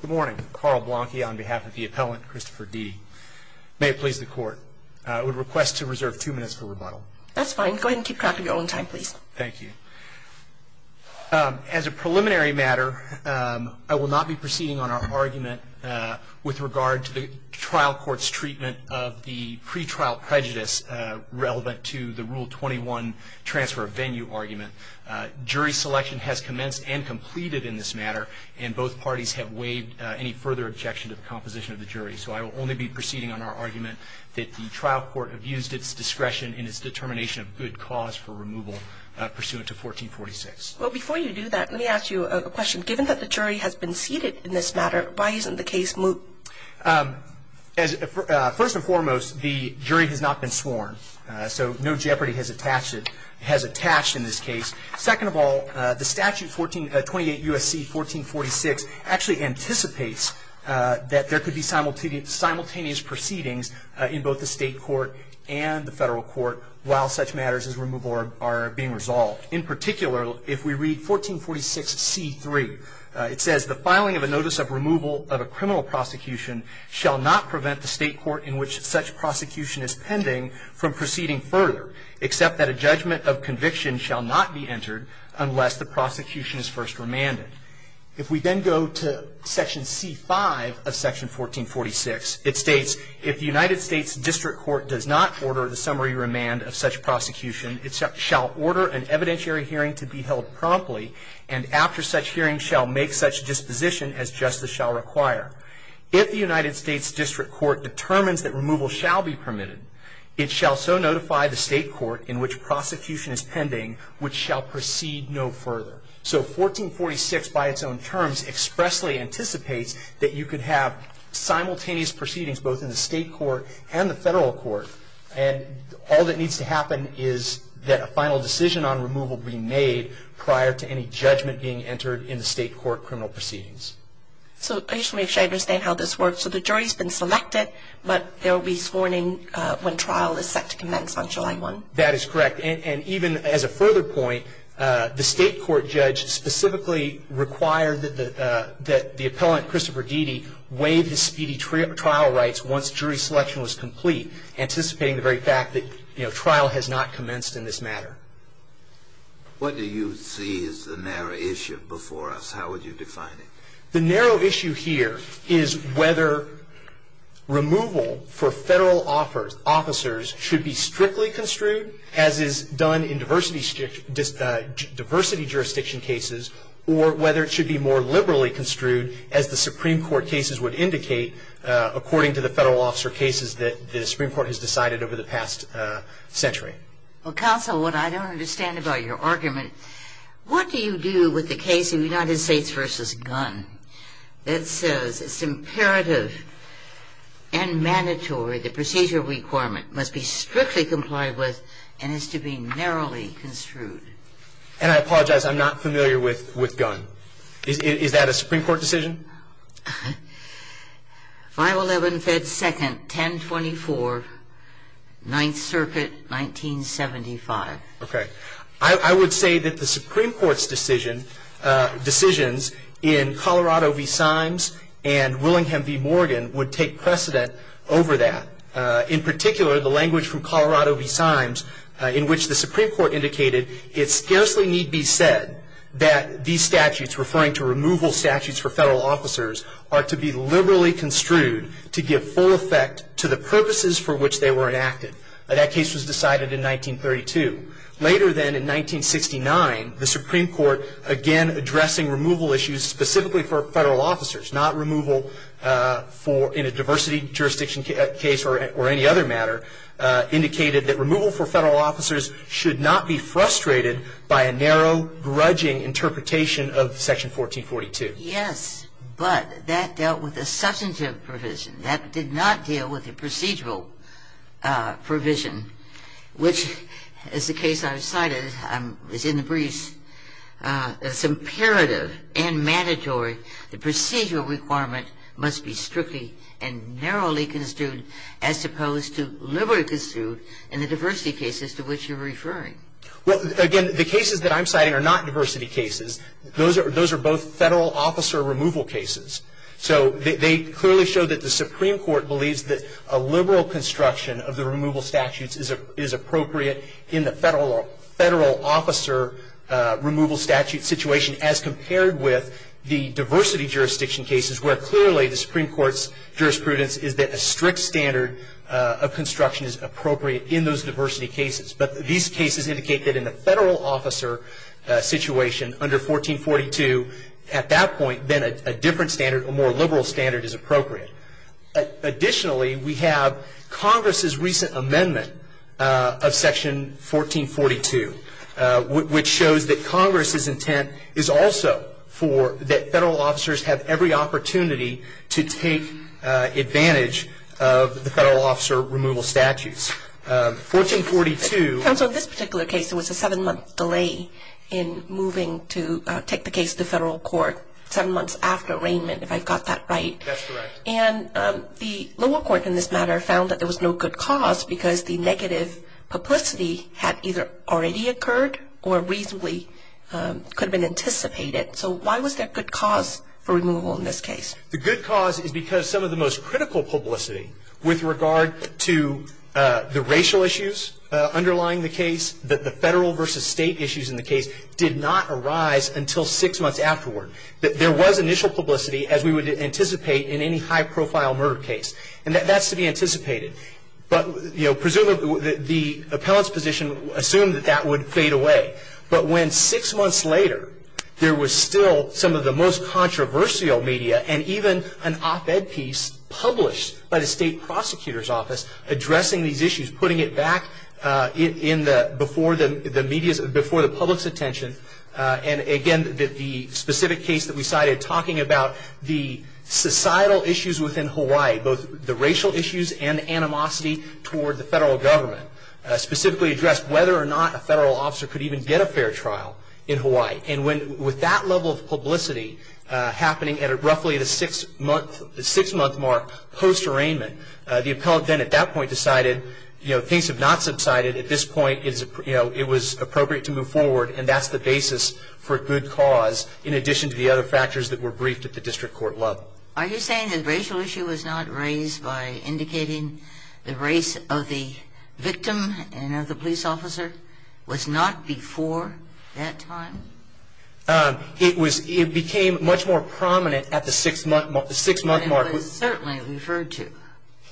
Good morning. Karl Blanke on behalf of the appellant, Christopher Deedy. May it please the court, I would request to reserve two minutes for rebuttal. That's fine. Go ahead and keep track of your own time, please. Thank you. As a preliminary matter, I will not be proceeding on our argument with regard to the trial court's treatment of the pretrial prejudice relevant to the Rule 21 transfer of venue argument. Jury selection has commenced and completed in this matter, and both parties have waived any further objection to the composition of the jury. So I will only be proceeding on our argument that the trial court abused its discretion in its determination of good cause for removal pursuant to 1446. Well, before you do that, let me ask you a question. Given that the jury has been seated in this matter, why isn't the case moved? First and foremost, the jury has not been sworn, so no jeopardy has attached in this case. Second of all, the statute, 28 U.S.C. 1446, actually anticipates that there could be simultaneous proceedings in both the state court and the federal court while such matters as removal are being resolved. In particular, if we read 1446 C.3, it says, The filing of a notice of removal of a criminal prosecution shall not prevent the state court in which such prosecution is pending from proceeding further, except that a judgment of conviction shall not be entered unless the prosecution is first remanded. If we then go to Section C.5 of Section 1446, it states, If the United States District Court does not order the summary remand of such prosecution, it shall order an evidentiary hearing to be held promptly, and after such hearing shall make such disposition as justice shall require. If the United States District Court determines that removal shall be permitted, it shall so notify the state court in which prosecution is pending, which shall proceed no further. So, 1446, by its own terms, expressly anticipates that you could have simultaneous proceedings both in the state court and the federal court, and all that needs to happen is that a final decision on removal be made prior to any judgment being entered in the state court criminal proceedings. So, I just want to make sure I understand how this works. So, the jury's been selected, but there will be this warning when trial is set to commence on July 1. That is correct. And even as a further point, the state court judge specifically required that the appellant, Christopher Deedy, waive his speedy trial rights once jury selection was complete, anticipating the very fact that, you know, trial has not commenced in this matter. What do you see as the narrow issue before us? How would you define it? The narrow issue here is whether removal for federal officers should be strictly construed, as is done in diversity jurisdiction cases, or whether it should be more liberally construed, as the Supreme Court cases would indicate, according to the federal officer cases that the Supreme Court has decided over the past century. Well, counsel, what I don't understand about your argument, what do you do with the case of United States v. Gunn that says it's imperative and mandatory the procedure requirement must be strictly complied with and is to be narrowly construed? And I apologize, I'm not familiar with Gunn. Is that a Supreme Court decision? 511 Fed 2nd, 1024, 9th Circuit, 1975. Okay. I would say that the Supreme Court's decision, decisions in Colorado v. Symes and Willingham v. Morgan would take precedent over that. In particular, the language from Colorado v. Symes, in which the Supreme Court indicated, it scarcely need be said that these statutes, referring to removal statutes for federal officers, are to be liberally construed to give full effect to the purposes for which they were enacted. That case was decided in 1932. Later then, in 1969, the Supreme Court, again addressing removal issues specifically for federal officers, not removal in a diversity jurisdiction case or any other matter, indicated that removal for federal officers should not be frustrated by a narrow, grudging interpretation of Section 1442. Yes. But that dealt with a substantive provision. That did not deal with a procedural provision, which, as the case I've cited, is in the briefs, is imperative and mandatory. The procedural requirement must be strictly and narrowly construed, as opposed to liberally construed in the diversity cases to which you're referring. Well, again, the cases that I'm citing are not diversity cases. Those are both federal officer removal cases. So they clearly show that the Supreme Court believes that a liberal construction of the removal statutes is appropriate in the federal officer removal statute situation, as compared with the diversity jurisdiction cases, where clearly the Supreme Court's jurisprudence is that a strict standard of construction is appropriate in those diversity cases. But these cases indicate that in the federal officer situation under 1442, at that point, then a different standard, a more liberal standard, is appropriate. Additionally, we have Congress's recent amendment of Section 1442, which shows that Congress's intent is also for that federal officers have every opportunity to take advantage of the federal officer removal statutes. 1442. Counsel, in this particular case, there was a seven-month delay in moving to take the case to federal court, seven months after arraignment, if I've got that right. That's correct. And the lower court in this matter found that there was no good cause because the negative publicity had either already occurred or reasonably could have been anticipated. So why was there a good cause for removal in this case? The good cause is because some of the most critical publicity with regard to the racial issues underlying the case, that the federal versus state issues in the case, did not arise until six months afterward. There was initial publicity, as we would anticipate in any high-profile murder case. And that's to be anticipated. But presumably, the appellant's position assumed that that would fade away. But when six months later, there was still some of the most controversial media and even an op-ed piece published by the state prosecutor's office addressing these issues, putting it back before the public's attention, and again, the specific case that we cited talking about the societal issues within Hawaii, both the racial issues and animosity toward the federal government, specifically addressed whether or not a federal officer could even get a fair trial in Hawaii. And with that level of publicity happening at roughly the six-month mark post-arraignment, the appellant then at that point decided, you know, things have not subsided. At this point, you know, it was appropriate to move forward, and that's the basis for good cause in addition to the other factors that were briefed at the district court level. Are you saying the racial issue was not raised by indicating the race of the victim and of the police officer was not before that time? It became much more prominent at the six-month mark. It was certainly referred to.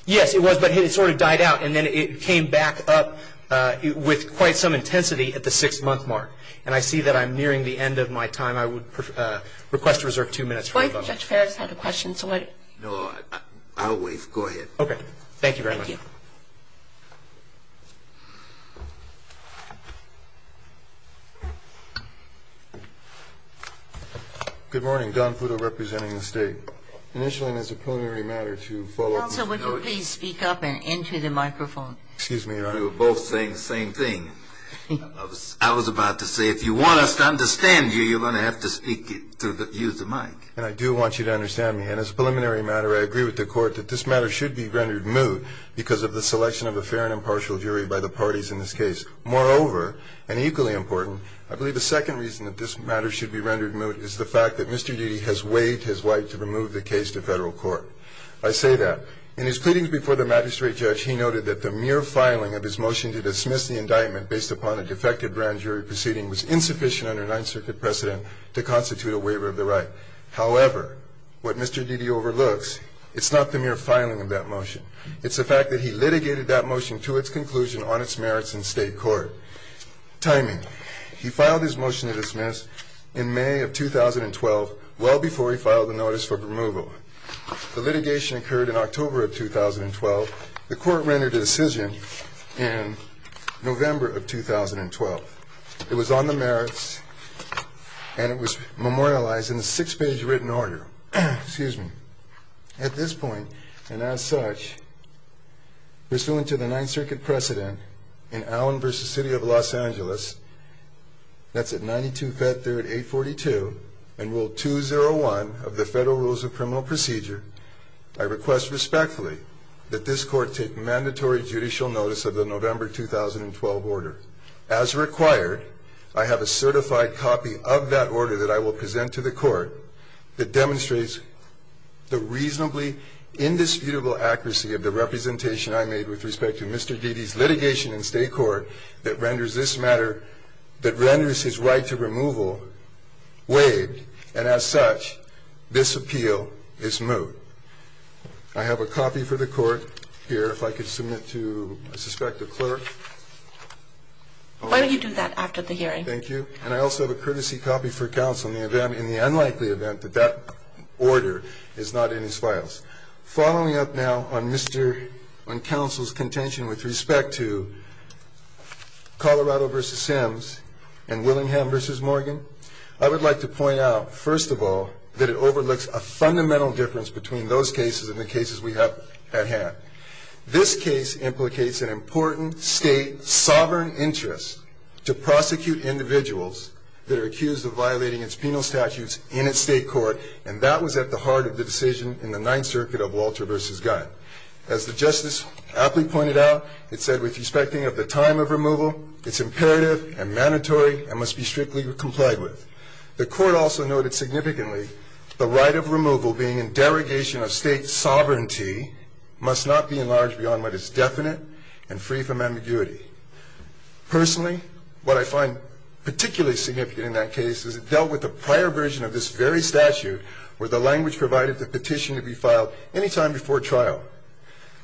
Yes, it was, but it sort of died out. And then it came back up with quite some intensity at the six-month mark. And I see that I'm nearing the end of my time. I would request to reserve two minutes. Judge Ferris had a question. No, I'll waive. Go ahead. Okay. Thank you very much. Good morning. Don Futo representing the state. I would like to begin by asking the court to please raise the matter of the preliminary matter. Initially, and as a preliminary matter to follow up with the judge. Council, would you please speak up and enter the microphone? Excuse me, Your Honor. You are both saying the same thing. I was about to say if you want us to understand you, you're going to have to speak through the use of the mic. And I do want you to understand me. And as a preliminary matter, I agree with the court that this matter should be rendered moot because of the selection of a fair and impartial jury by the parties in this case. Moreover, and equally important, I believe the second reason that this matter should be rendered moot is the fact that Mr. Didi has waived his right to remove the case to Federal court. I say that. In his pleadings before the magistrate judge, he noted that the mere filing of his motion to dismiss the indictment based upon a defective grand jury proceeding was insufficient under Ninth Circuit precedent to constitute a waiver of the right. However, what Mr. Didi overlooks, it's not the mere filing of that motion. It's the fact that he litigated that motion to its conclusion on its merits in state court. Timing. He filed his motion to dismiss in May of 2012, well before he filed the notice for removal. The litigation occurred in October of 2012. The court rendered a decision in November of 2012. It was on the merits, and it was memorialized in a six-page written order. Now, at this point, and as such, pursuant to the Ninth Circuit precedent in Allen v. City of Los Angeles, that's at 92 Feb 3rd, 842, and Rule 201 of the Federal Rules of Criminal Procedure, I request respectfully that this court take mandatory judicial notice of the November 2012 order. As required, I have a certified copy of that order that I will present to the court that demonstrates the reasonably indisputable accuracy of the representation I made with respect to Mr. Didi's litigation in state court that renders this matter that renders his right to removal waived, and as such, this appeal is moot. I have a copy for the court here, if I could submit to a suspected clerk. Why don't you do that after the hearing? Thank you. And I also have a courtesy copy for counsel in the unlikely event that that order is not in his files. Following up now on counsel's contention with respect to Colorado v. Sims and Willingham v. Morgan, I would like to point out, first of all, that it overlooks a fundamental difference between those cases and the cases we have at hand. This case implicates an important state sovereign interest to prosecute individuals that are accused of violating its penal statutes in its state court, and that was at the heart of the decision in the Ninth Circuit of Walter v. Gunn. As the justice aptly pointed out, it said, with respecting of the time of removal, it's imperative and mandatory and must be strictly complied with. The court also noted significantly the right of removal being in derogation of state sovereignty must not be enlarged beyond what is definite and free from ambiguity. Personally, what I find particularly significant in that case is it dealt with the prior version of this very statute where the language provided the petition to be filed any time before trial.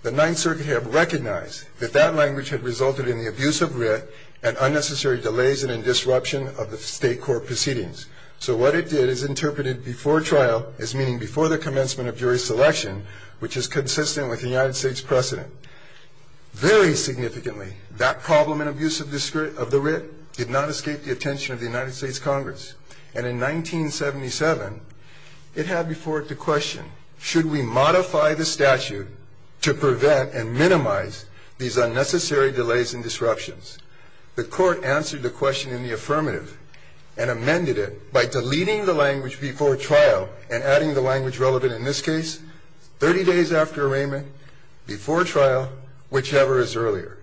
The Ninth Circuit had recognized that that language had resulted in the abuse of writ and unnecessary delays and a disruption of the state court proceedings. So what it did is interpret it before trial as meaning before the commencement of jury selection, which is consistent with the United States precedent. Very significantly, that problem and abuse of the writ did not escape the attention of the United States Congress. And in 1977, it had before it the question, should we modify the statute to prevent and minimize these unnecessary delays and disruptions? The court answered the question in the affirmative and amended it by deleting the language before trial and adding the language relevant in this case 30 days after arraignment, before trial, whichever is earlier.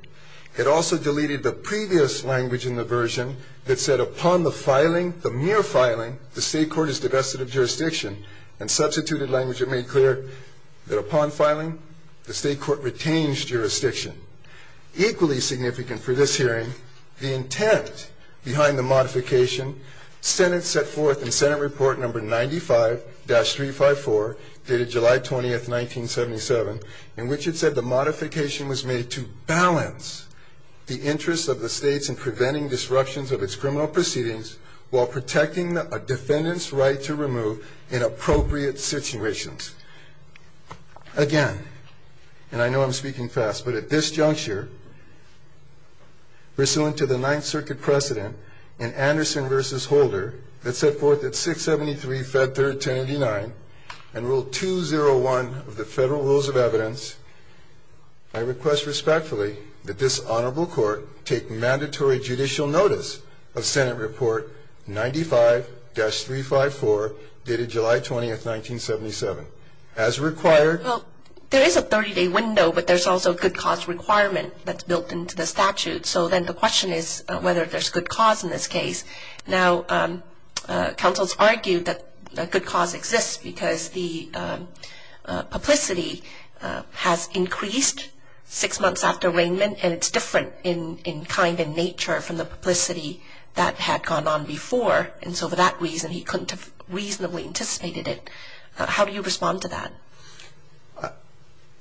It also deleted the previous language in the version that said, upon the filing, the mere filing, the state court is divested of jurisdiction and substituted language that made clear that upon filing, the state court retains jurisdiction. Equally significant for this hearing, the intent behind the modification, Senate set forth in Senate Report Number 95-354 dated July 20th, 1977, in which it said the modification was made to balance the interests of the states in preventing disruptions of its criminal proceedings while protecting a defendant's right to remove in appropriate situations. Again, and I know I'm speaking fast, but at this juncture, pursuant to the Ninth Circuit precedent in Anderson v. Holder, that set forth at 673, Fed Third, 1089, and Rule 201 of the Federal Rules of Evidence, I request respectfully that this honorable court take mandatory judicial notice of Senate Report 95-354 dated July 20th, 1977. As required. Well, there is a 30-day window, but there's also a good cause requirement that's built into the statute. So then the question is whether there's good cause in this case. Now, counsel has argued that good cause exists because the publicity has increased six months after arraignment, and it's different in kind and nature from the publicity that had gone on before. And so for that reason, he couldn't have reasonably anticipated it. How do you respond to that?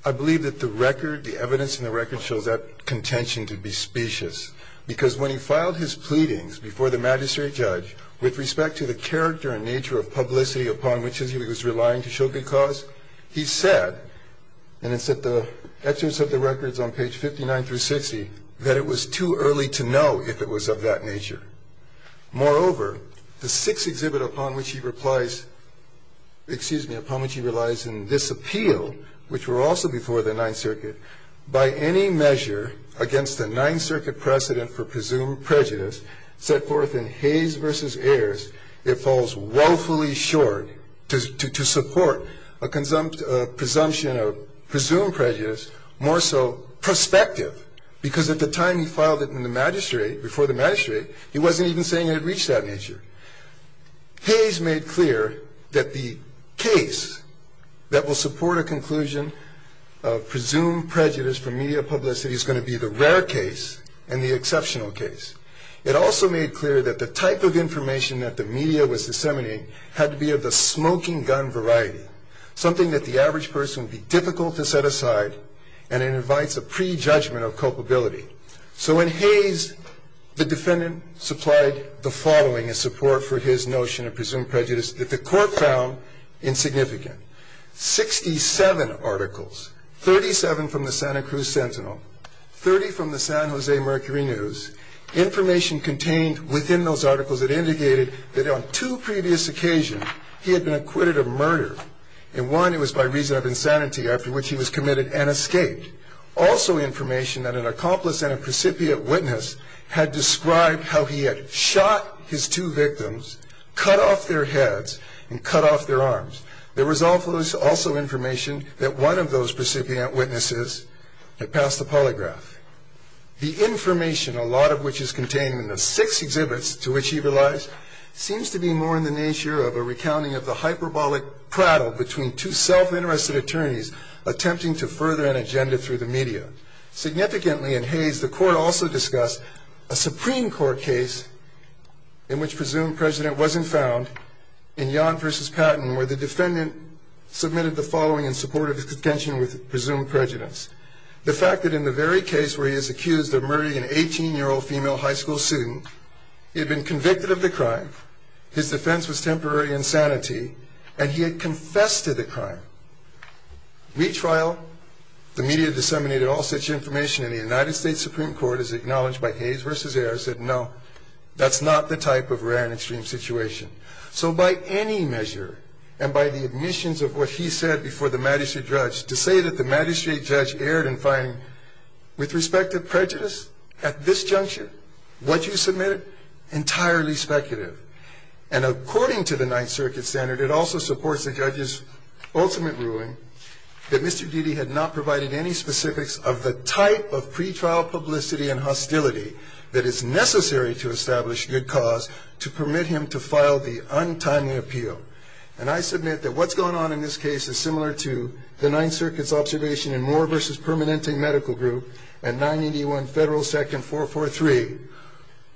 I believe that the record, the evidence in the record shows that contention to be specious, because when he filed his pleadings before the magistrate judge with respect to the character and nature of publicity upon which he was relying to show good cause, he said, and it's at the excerpts of the records on page 59 through 60, that it was too early to know if it was of that nature. Moreover, the sixth exhibit upon which he replies – excuse me, upon which he relies in this appeal, which were also before the Ninth Circuit, by any measure against the Ninth Circuit precedent for presumed prejudice set forth in Hayes v. Ayers, it falls woefully short to support a presumption of presumed prejudice, more so prospective, because at the time he filed it in the magistrate, before the magistrate, he wasn't even saying it had reached that nature. Hayes made clear that the case that will support a conclusion of presumed prejudice from media publicity is going to be the rare case and the exceptional case. It also made clear that the type of information that the media was disseminating had to be of the smoking gun variety, something that the average person would be difficult to set aside, and it invites a prejudgment of culpability. So in Hayes, the defendant supplied the following in support for his notion of presumed prejudice that the court found insignificant. Sixty-seven articles, 37 from the Santa Cruz Sentinel, 30 from the San Jose Mercury News, information contained within those articles that indicated that on two previous occasions he had been acquitted of murder. In one, it was by reason of insanity after which he was committed and escaped. Also information that an accomplice and a precipient witness had described how he had shot his two victims, cut off their heads, and cut off their arms. There was also information that one of those precipient witnesses had passed the polygraph. The information, a lot of which is contained in the six exhibits to which he relies, seems to be more in the nature of a recounting of the hyperbolic prattle between two self-interested attorneys attempting to further an agenda through the media. Significantly, in Hayes, the court also discussed a Supreme Court case in which presumed prejudice wasn't found, in Yon v. Patton, where the defendant submitted the following in support of his contention with presumed prejudice. The fact that in the very case where he is accused of murdering an 18-year-old female high school student, he had been convicted of the crime, his defense was temporary insanity, and he had confessed to the crime. Retrial, the media disseminated all such information, and the United States Supreme Court, as acknowledged by Hayes v. Ayer, said no, that's not the type of rare and extreme situation. So by any measure, and by the omissions of what he said before the magistrate judge, to say that the magistrate judge erred in finding, with respect to prejudice, at this juncture, what you submitted, entirely speculative. And according to the Ninth Circuit standard, it also supports the judge's ultimate ruling that Mr. Didi had not provided any specifics of the type of pretrial publicity and hostility that is necessary to establish good cause to permit him to file the untimely appeal. And I submit that what's going on in this case is similar to the Ninth Circuit's observation in Moore v. Permanente Medical Group at 981 Federal 2nd 443,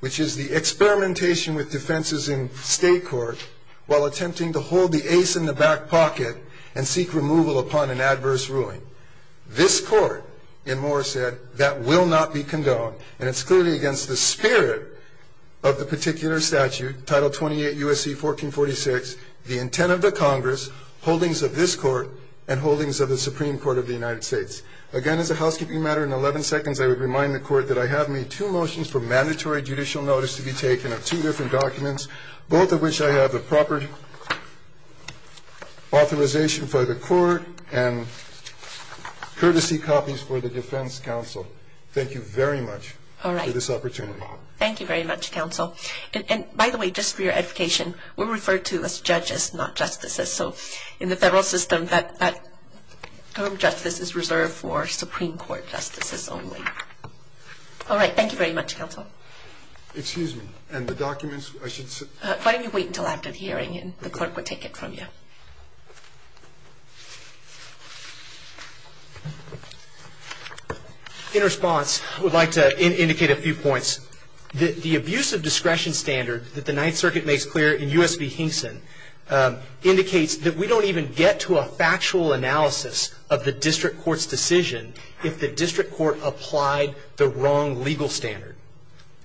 which is the experimentation with defenses in state court while attempting to hold the ace in the back pocket and seek removal upon an adverse ruling. This court, in Moore's head, that will not be condoned, and it's clearly against the spirit of the particular statute, Title 28 U.S.C. 1446, the intent of the Congress, holdings of this court, and holdings of the Supreme Court of the United States. Again, as a housekeeping matter, in 11 seconds I would remind the court that I have made two motions for mandatory judicial notice to be taken of two different documents, both of which I have the proper authorization for the court and courtesy copies for the defense counsel. Thank you very much for this opportunity. Thank you very much, counsel. And, by the way, just for your education, we're referred to as judges, not justices. So in the federal system, that term justice is reserved for Supreme Court justices only. All right. Thank you very much, counsel. Excuse me. And the documents, I should say. Why don't you wait until after the hearing, and the court will take it from you. In response, I would like to indicate a few points. The abuse of discretion standard that the Ninth Circuit makes clear in U.S. v. Hinkson indicates that we don't even get to a factual analysis of the district court's decision if the district court applied the wrong legal standard.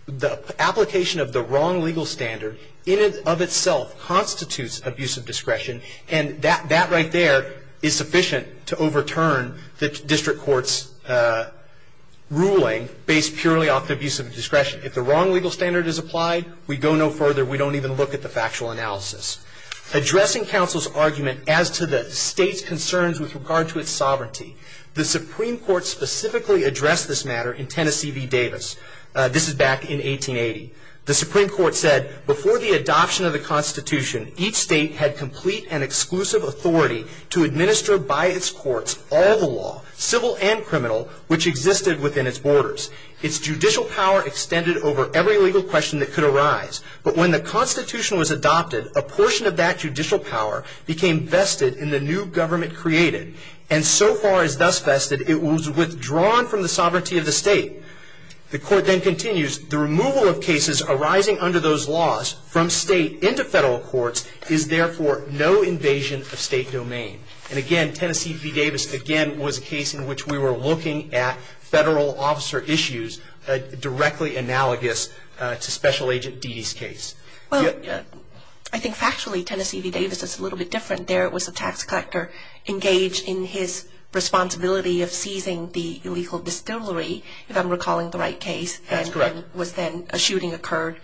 The application of the wrong legal standard in and of itself constitutes abuse of discretion, and that right there is sufficient to overturn the district court's ruling based purely off the abuse of discretion. If the wrong legal standard is applied, we go no further. We don't even look at the factual analysis. Addressing counsel's argument as to the state's concerns with regard to its sovereignty, the Supreme Court specifically addressed this matter in Tennessee v. Davis. This is back in 1880. The Supreme Court said, before the adoption of the Constitution, each state had complete and exclusive authority to administer by its courts all the law, civil and criminal, which existed within its borders. Its judicial power extended over every legal question that could arise. But when the Constitution was adopted, a portion of that judicial power became vested in the new government created, and so far as thus vested, it was withdrawn from the sovereignty of the state. The court then continues, the removal of cases arising under those laws from state into federal courts is therefore no invasion of state domain. And, again, Tennessee v. Davis, again, was a case in which we were looking at federal officer issues directly analogous to Special Agent Dede's case. Well, I think factually Tennessee v. Davis is a little bit different there. It was a tax collector engaged in his responsibility of seizing the illegal distillery, if I'm recalling the right case. That's correct. And was then a shooting occurred.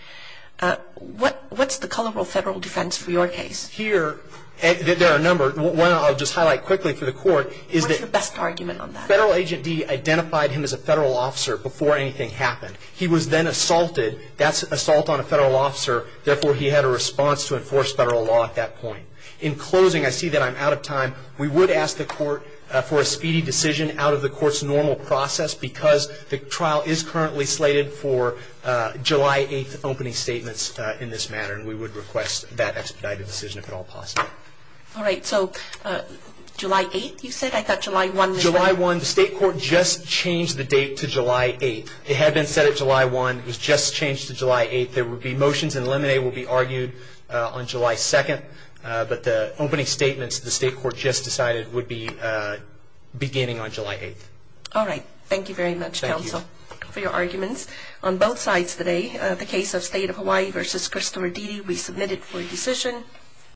What's the color of federal defense for your case? Here, there are a number. One I'll just highlight quickly for the court is that What's the best argument on that? Federal Agent Dede identified him as a federal officer before anything happened. He was then assaulted. That's assault on a federal officer. Therefore, he had a response to enforce federal law at that point. In closing, I see that I'm out of time. We would ask the court for a speedy decision out of the court's normal process because the trial is currently slated for July 8th opening statements in this matter, and we would request that expedited decision, if at all possible. All right. So July 8th, you said? I thought July 1 was the date. July 1. The state court just changed the date to July 8th. It had been set at July 1. It was just changed to July 8th. There would be motions and limine will be argued on July 2nd, but the opening statements the state court just decided would be beginning on July 8th. All right. Thank you very much, counsel, for your arguments. Thank you. We have a motion on both sides today, the case of State of Hawaii v. Christopher Dede. We submit it for decision.